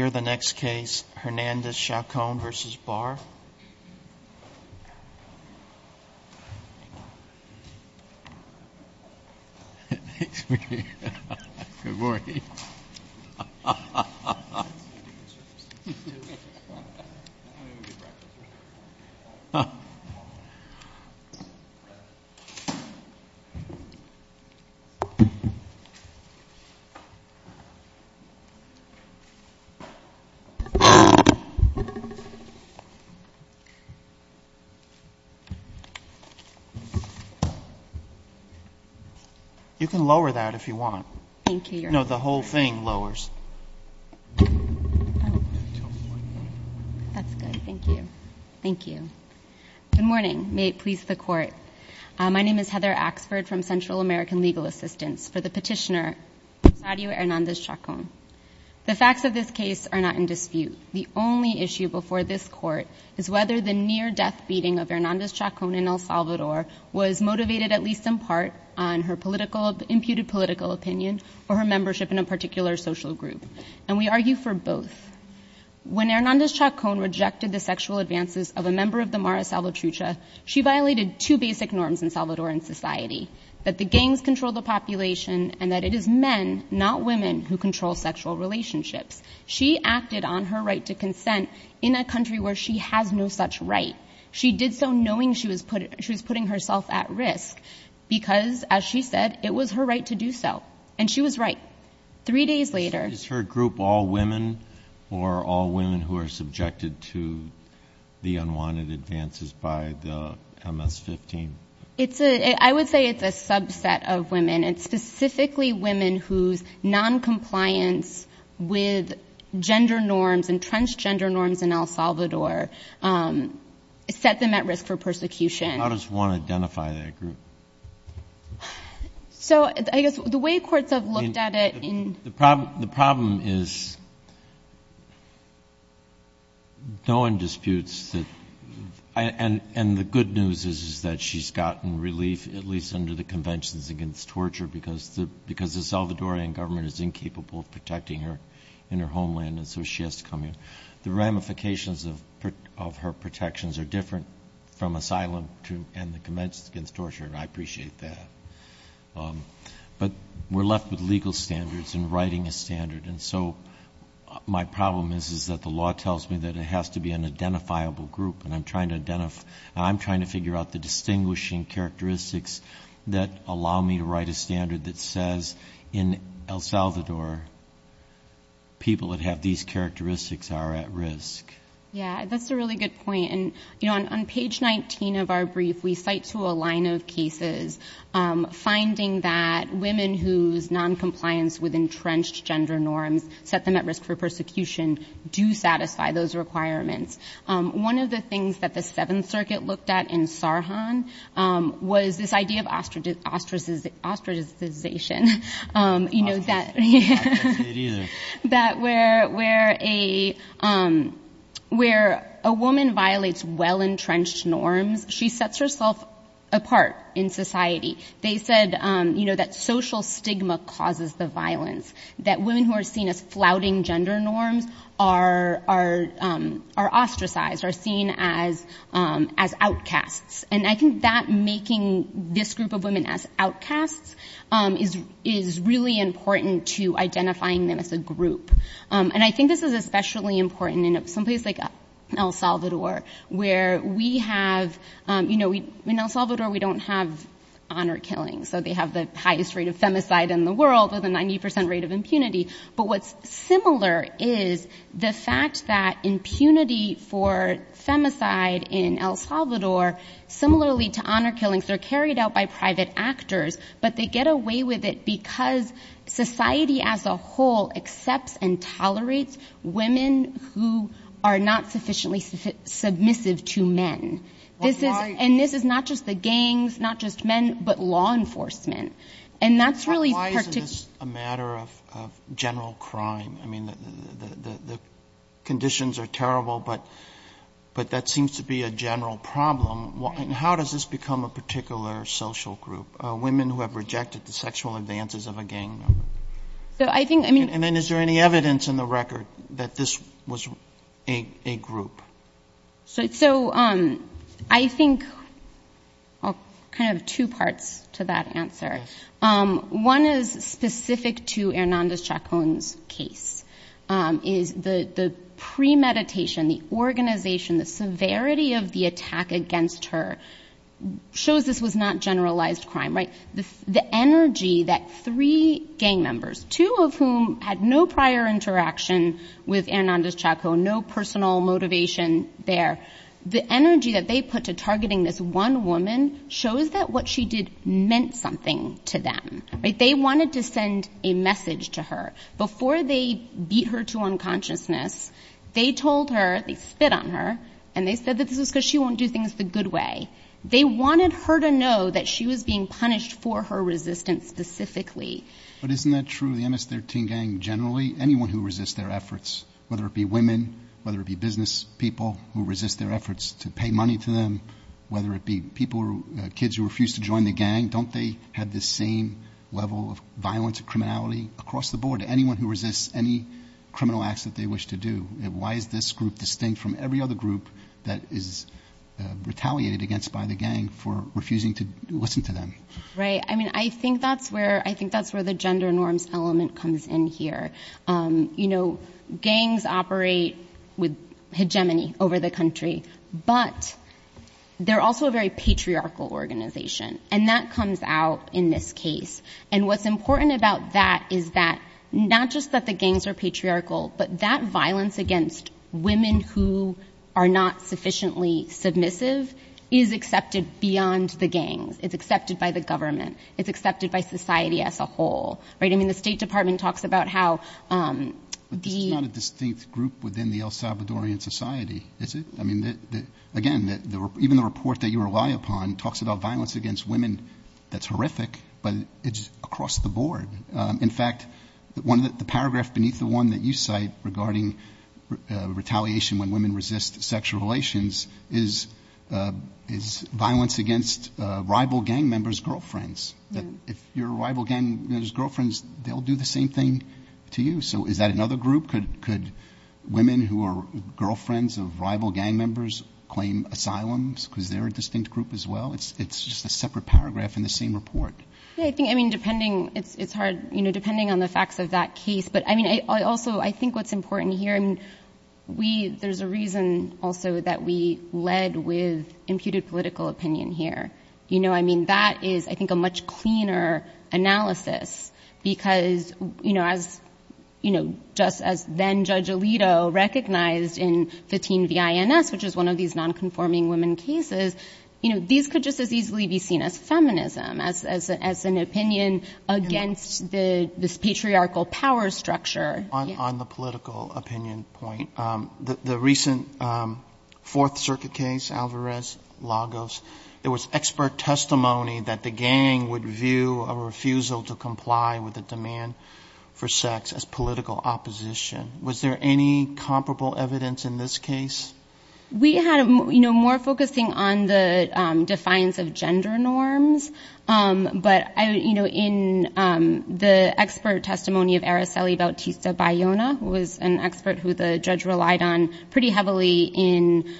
Here is the next case, Hernandez-Chacon v. Barr. Good morning. May it please the Court. My name is Heather Axford from Central American Legal Assistance for the petitioner, Sadio Hernandez-Chacon. The facts of this case are not in dispute. The only issue before this Court is whether the near-death beating of Hernandez-Chacon in El Salvador was motivated at least in part on her imputed political opinion or her membership in a particular social group. And we argue for both. When Hernandez-Chacon rejected the sexual advances of a member of the Mara Salvatrucha, she violated two basic norms in Salvadoran society, that the gangs control the population and that it is men, not women, who control sexual relationships. She acted on her right to consent in a country where she has no such right. She did so knowing she was putting herself at risk because, as she said, it was her right to do so. And she was right. Three days later— Is her group all women or all women who are subjected to the unwanted advances by the MS-15? It's a — I would say it's a subset of women. It's specifically women whose noncompliance with gender norms, entrenched gender norms in El Salvador, set them at risk for persecution. How does one identify that group? So I guess the way courts have looked at it in— The problem is no one disputes that—and the good news is that she's gotten relief, at least under the Conventions Against Torture, because the Salvadoran government is incapable of protecting her in her homeland and so she has to come here. The ramifications of her protections are different from asylum and the Conventions Against Torture, and I appreciate that. But we're left with legal standards and writing a standard, and so my problem is that the law tells me that it has to be an identifiable group, and I'm trying to identify—I'm trying to figure out the distinguishing characteristics that allow me to write a standard that says in El Salvador, people that have these characteristics are at risk. Yeah, that's a really good point. And, you know, on page 19 of our brief, we cite to the line of cases, finding that women whose noncompliance with entrenched gender norms set them at risk for persecution do satisfy those requirements. One of the things that the Seventh Circuit looked at in Sarhan was this idea of ostracization, you know, that— Ostracization, yeah, that's it either. That where a woman violates well-entrenched norms, she sets herself up to violate those apart in society. They said, you know, that social stigma causes the violence, that women who are seen as flouting gender norms are ostracized, are seen as outcasts. And I think that making this group of women as outcasts is really important to identifying them as a group. And I think this is especially important in someplace like El Salvador, where we have—you know, we don't have honor killings. So they have the highest rate of femicide in the world with a 90 percent rate of impunity. But what's similar is the fact that impunity for femicide in El Salvador, similarly to honor killings, they're carried out by private actors, but they get away with it because society as a whole accepts and tolerates women who are not sufficiently submissive to men. And this is not just the gangs, not just men, but law enforcement. And that's really Roberts, why isn't this a matter of general crime? I mean, the conditions are terrible, but that seems to be a general problem. How does this become a particular social group, women who have rejected the sexual advances of a gang member? So I think, I mean— And then is there any evidence in the record that this was a group? So I think—I'll kind of have two parts to that answer. One is specific to Hernández-Chacón's case, is the premeditation, the organization, the severity of the attack against her shows this was not generalized crime, right? The energy that three gang members, two of whom had no prior interaction with Hernández-Chacón, no personal motivation there, the energy that they put to targeting this one woman shows that what she did meant something to them. They wanted to send a message to her. Before they beat her to unconsciousness, they told her, they spit on her, and they said that this was because she won't do things the good way. They wanted her to know that she was being punished for her resistance specifically. But isn't that true of the MS-13 gang generally? Anyone who resists their efforts, whether it be women, whether it be business people who resist their efforts to pay money to them, whether it be people, kids who refuse to join the gang, don't they have the same level of violence and criminality across the board? Anyone who resists any criminal acts that they wish to do, why is this group distinct from every other group that is retaliated against by the gang for refusing to listen to them? Right. I mean, I think that's where the gender norms element comes in here. You know, gangs operate with hegemony over the country, but they're also a very patriarchal organization. And that comes out in this case. And what's important about that is that not just that the gangs are patriarchal, but that violence against women who are not sufficiently submissive is accepted beyond the gangs. It's accepted by the government. It's accepted by society as a whole. Right. I mean, the State Department talks about how the... But this is not a distinct group within the El Salvadorian society, is it? I mean, again, even the report that you rely upon talks about violence against women that's horrific, but it's across the board. In fact, the paragraph beneath the one that you cite regarding retaliation when women resist sexual relations is violence against rival gang members' girlfriends. That if you're a rival gang member's girlfriend, they'll do the same thing to you. So is that another group? Could women who are girlfriends of rival gang members claim asylums because they're a distinct group as well? It's just a separate paragraph in the same report. Yeah, I think, I mean, depending, it's hard, you know, depending on the facts of that case. But I mean, I also, I think what's important here and we, there's a reason also that we led with imputed political opinion here. You know, I mean, that is, I think, a much cleaner analysis because, you know, as you know, just as then Judge Alito recognized in 15 V.I.N.S., which is one of these nonconforming women cases, you know, these could just as easily be seen as feminism, as an opinion against this patriarchal power structure. On the political opinion point, the recent Fourth Circuit case, Alvarez-Lagos, there was expert testimony that the gang would view a refusal to comply with a demand for sex as political opposition. Was there any comparable evidence in this case? We had, you know, more focusing on the defiance of gender norms. But, you know, in the expert testimony of Araceli Bautista Bayona, who was an expert who the judge relied on pretty heavily in,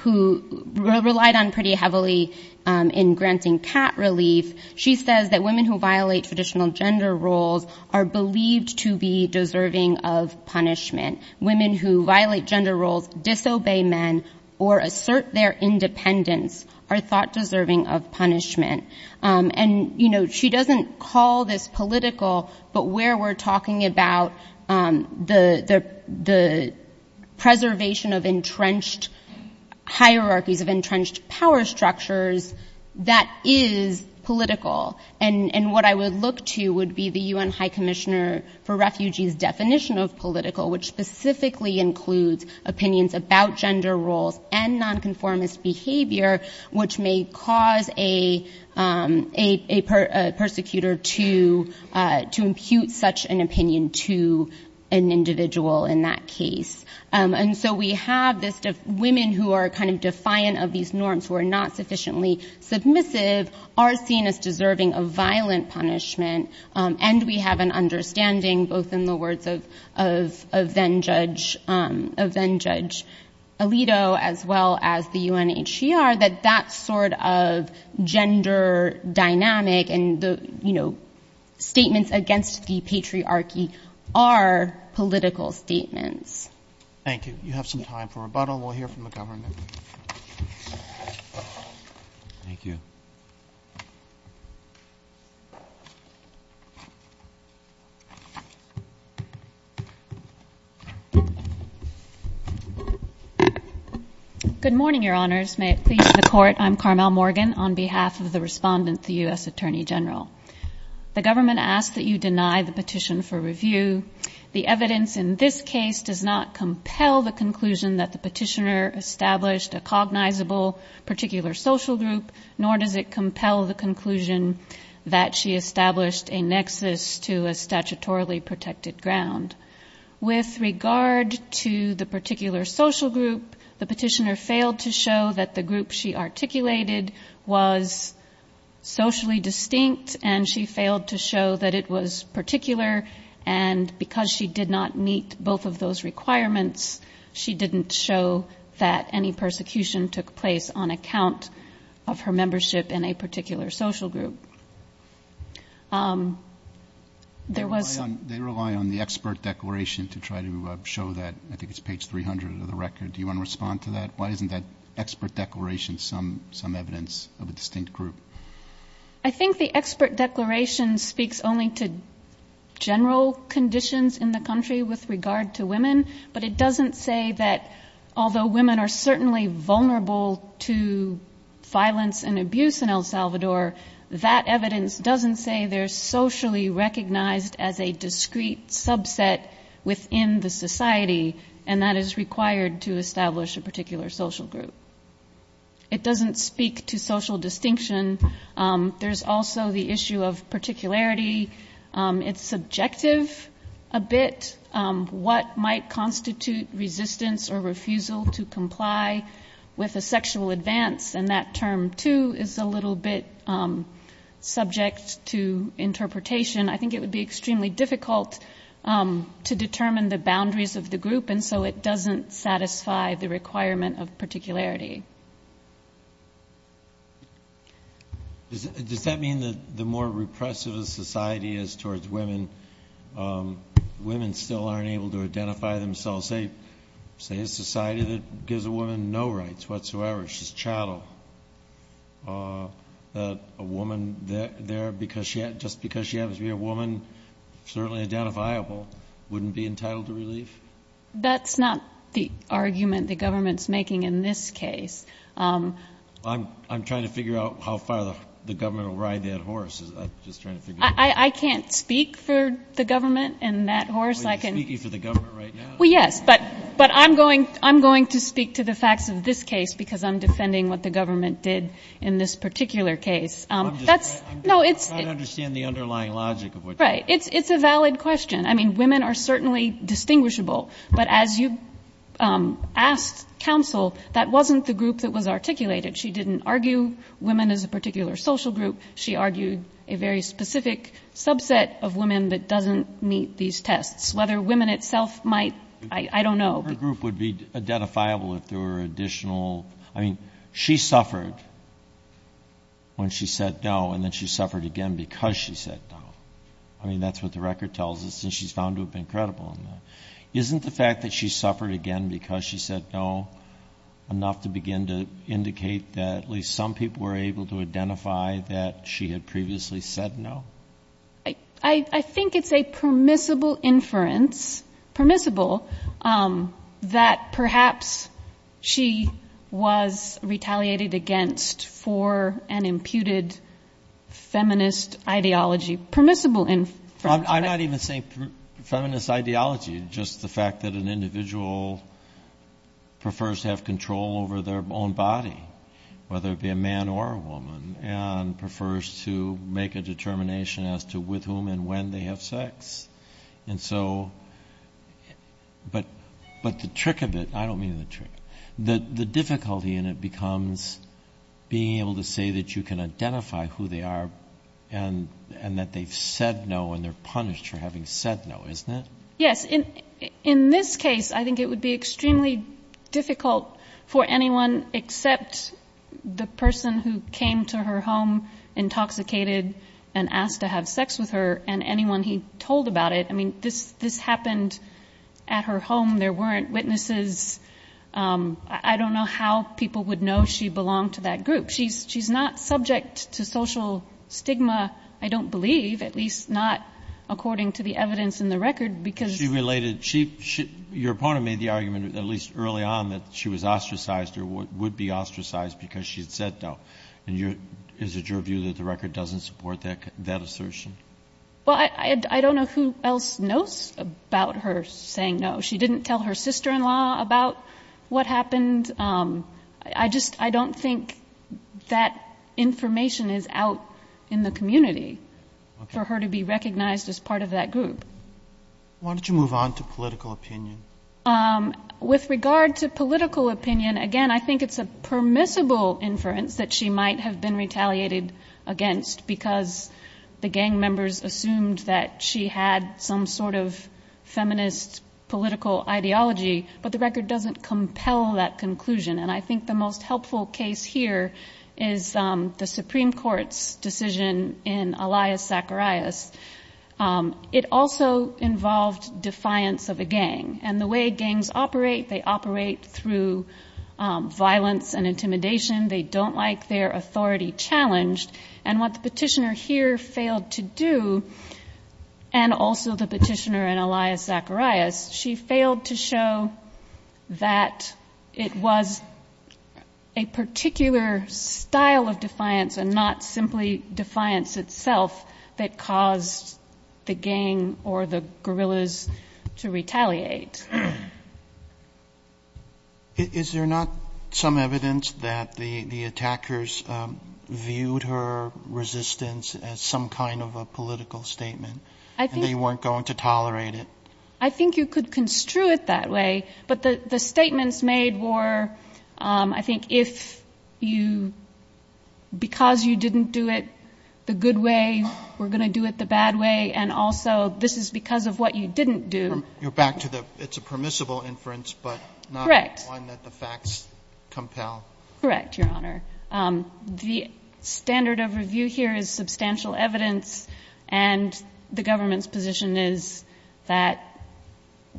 who relied on pretty heavily in granting cat relief, she says that women who violate traditional gender roles are believed to be deserving of punishment. Women who violate gender roles, disobey men, or assert their independence are thought deserving of punishment. And, you know, she doesn't call this political, but where we're talking about the preservation of entrenched hierarchies, of entrenched power structures, that is political. And what I would look to would be the U.N. High Commissioner for Refugees' definition of political, which specifically includes opinions about gender roles and nonconformist behavior, which may cause a persecutor to impute such an opinion to an individual in that case. And so we have this, women who are kind of defiant of these norms, who are not sufficiently submissive, are seen as deserving of violent punishment. And we have an understanding, both in the case of then-Judge Alito, as well as the UNHCR, that that sort of gender dynamic and, you know, statements against the patriarchy are political statements. Thank you. You have some time for rebuttal. We'll hear from the government. Good morning, Your Honors. May it please the Court, I'm Carmel Morgan, on behalf of the Respondent, the U.S. Attorney General. The government asks that you deny the petition for review. The evidence in this case does not compel the conclusion that the petitioner established a cognizable particular social group, nor does it compel the conclusion that she established a nexus to a statutorily protected ground. With regard to the particular social group, the petitioner failed to show that the group she articulated was socially distinct, and she failed to show that it was particular. And because she did not meet both of those requirements, she didn't show that any persecution took place on account of her membership in a particular social group. There was... They rely on the expert declaration to try to show that. I think it's page 300 of the record. Do you want to respond to that? Why isn't that expert declaration some evidence of a distinct group? I think the expert declaration speaks only to general conditions in the country with regard to women, but it doesn't say that, although women are certainly vulnerable to sexual assault in El Salvador, that evidence doesn't say they're socially recognized as a discrete subset within the society, and that is required to establish a particular social group. It doesn't speak to social distinction. There's also the issue of particularity. It's subjective a bit. What might constitute resistance or refusal to comply with a sexual advance, and that term too is a little bit subject to interpretation. I think it would be extremely difficult to determine the boundaries of the group, and so it doesn't satisfy the requirement of particularity. Does that mean that the more repressive a society is towards women, women still aren't able to identify themselves? Say a society that gives a woman no rights whatsoever. She's just chattel. A woman there, just because she happens to be a woman, certainly identifiable, wouldn't be entitled to relief? That's not the argument the government's making in this case. I'm trying to figure out how far the government will ride that horse. I'm just trying to figure it out. I can't speak for the government in that horse. Well, you're speaking for the government right now. Well, yes, but I'm going to speak to the facts of this case, because I'm defending what the government did in this particular case. I'm just trying to understand the underlying logic of what you're saying. Right. It's a valid question. I mean, women are certainly distinguishable, but as you asked counsel, that wasn't the group that was articulated. She didn't argue women as a particular social group. She argued a very specific subset of women that doesn't meet these tests. Whether women itself might, I don't know. Her group would be identifiable if there were additional, I mean, she suffered when she said no, and then she suffered again because she said no. I mean, that's what the record tells us, and she's found to have been credible in that. Isn't the fact that she suffered again because she said no enough to begin to indicate that at least some people were able to identify that she had previously said no? I think it's a permissible inference, permissible, that perhaps she was retaliated against for an imputed feminist ideology. Permissible inference. I'm not even saying feminist ideology, just the fact that an individual prefers to have determination as to with whom and when they have sex. And so, but the trick of it, I don't mean the trick, the difficulty in it becomes being able to say that you can identify who they are and that they've said no and they're punished for having said no, isn't it? Yes. In this case, I think it would be extremely difficult for anyone except the person who had said no and asked to have sex with her and anyone he told about it. I mean, this happened at her home. There weren't witnesses. I don't know how people would know she belonged to that group. She's not subject to social stigma, I don't believe, at least not according to the evidence in the record, because she related. Your opponent made the argument, at least early on, that she was ostracized or would be ostracized because she had said no. And is it your view that the record doesn't support that assertion? Well, I don't know who else knows about her saying no. She didn't tell her sister-in-law about what happened. I just, I don't think that information is out in the community for her to be recognized as part of that group. Why don't you move on to political opinion? With regard to political opinion, again, I think it's a permissible inference that she might have been retaliated against because the gang members assumed that she had some sort of feminist political ideology. But the record doesn't compel that conclusion. And I think the most helpful case here is the Supreme Court's decision in Elias Zacharias. It also involved defiance of a gang. And the way gangs operate, they operate through violence and intimidation. They don't like their authority challenged. And what the Petitioner here failed to do, and also the Petitioner in Elias Zacharias, she failed to show that it was a particular style of defiance and not simply defiance itself that caused the gang or the guerrillas to retaliate. Is there not some evidence that the attackers viewed her resistance as some kind of a political statement and they weren't going to tolerate it? I think you could construe it that way. But the statements made were, I think, if you because you didn't do it the good way, we're going to do it the bad way, and also this is because of what you didn't do. You're back to the it's a permissible inference, but not one that the facts compel. Correct, Your Honor. The standard of review here is substantial evidence, and the government's position is that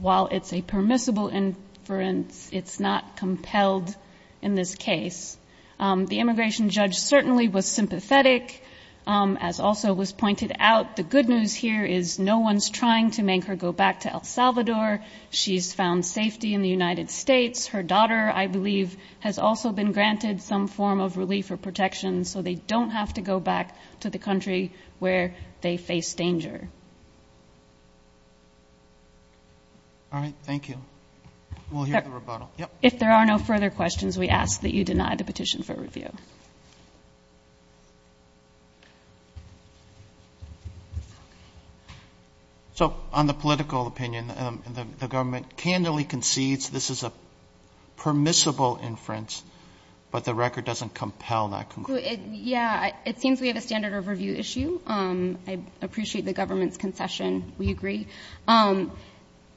while it's a permissible inference, it's not compelled in this case. The immigration judge certainly was sympathetic, as also was pointed out. The good news here is no one's trying to make her go back to El Salvador. She's found safety in the United States. Her daughter, I believe, has also been granted some form of relief or protection, so they don't have to go back to the country where they face danger. All right. Thank you. We'll hear the rebuttal. If there are no further questions, we ask that you deny the petition for review. So on the political opinion, the government candidly concedes this is a permissible inference, but the record doesn't compel that conclusion. Yeah. It seems we have a standard of review issue. I appreciate the government's concession. We agree.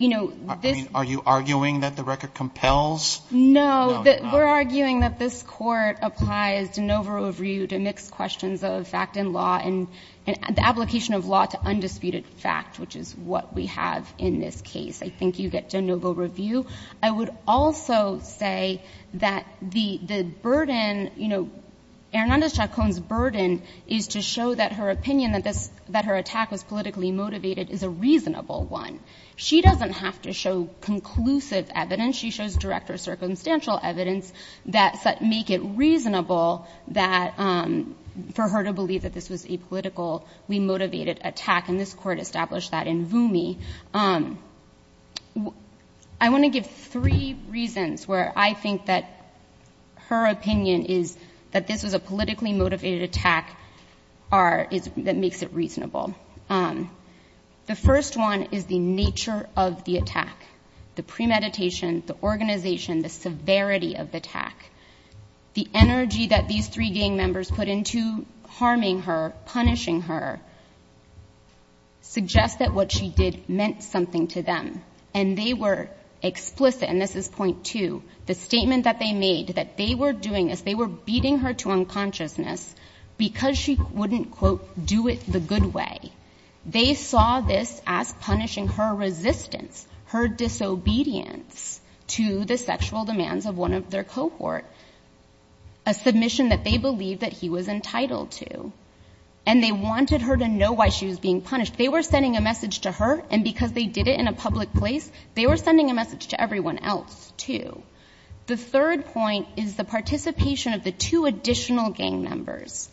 You know, this ---- Are you arguing that the record compels? No. We're arguing that this Court applies de novo review to mix questions of fact and law and the application of law to undisputed fact, which is what we have in this case. I think you get de novo review. I would also say that the burden, you know, Hernández-Chacón's burden is to show that her opinion that this ---- that her attack was politically motivated is a reasonable one. She doesn't have to show conclusive evidence. She shows direct or circumstantial evidence that make it reasonable that ---- for her to believe that this was a politically motivated attack, and this Court established that in Vumi. I want to give three reasons where I think that her opinion is that this was a politically motivated attack are ---- that makes it reasonable. The first one is the nature of the attack, the premeditation, the organization, the severity of the attack. The energy that these three gang members put into harming her, punishing her, suggests that what she did meant something to them. And they were explicit, and this is point two, the statement that they made, that they were doing this, they were beating her to unconsciousness because she wouldn't, quote, do it the good way. They saw this as punishing her resistance, her disobedience to the sexual demands of one of their cohort, a submission that they believed that he was entitled to. And they wanted her to know why she was being punished. They were sending a message to her, and because they did it in a public place, they were sending a message to everyone else, too. The third point is the participation of the two additional gang members.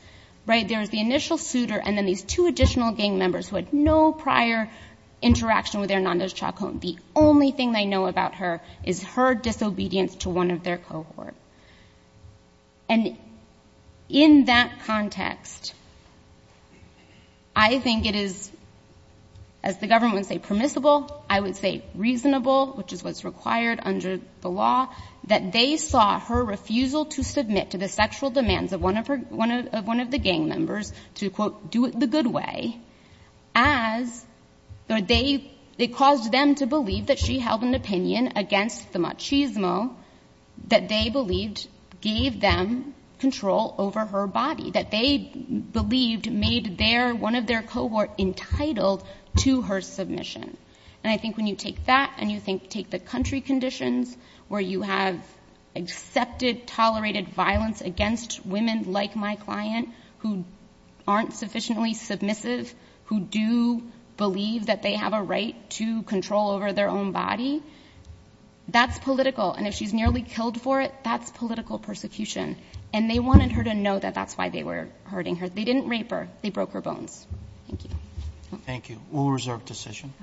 Right? There was the initial suitor and then these two additional gang members who had no prior interaction with Hernandez-Chacón. The only thing they know about her is her disobedience to one of their cohort. And in that context, I think it is, as the government would say, permissible, I would say reasonable, which is what's required under the law, that they saw her refusal to submit to the sexual demands of one of her, one of the gang members, to, quote, do it the good way, as, or they, it caused them to believe that she held an opinion against the machismo that they believed gave them control over her body, that they believed made their, one of their cohort entitled to her submission. And I think when you take that and you think, take the country conditions where you have accepted, tolerated violence against women like my client who aren't sufficiently submissive, who do believe that they have a right to control over their own body, that's political. And if she's nearly killed for it, that's political persecution. And they wanted her to know that that's why they were hurting her. They didn't rape her. They broke her bones. Thank you. Thank you. We'll reserve decision.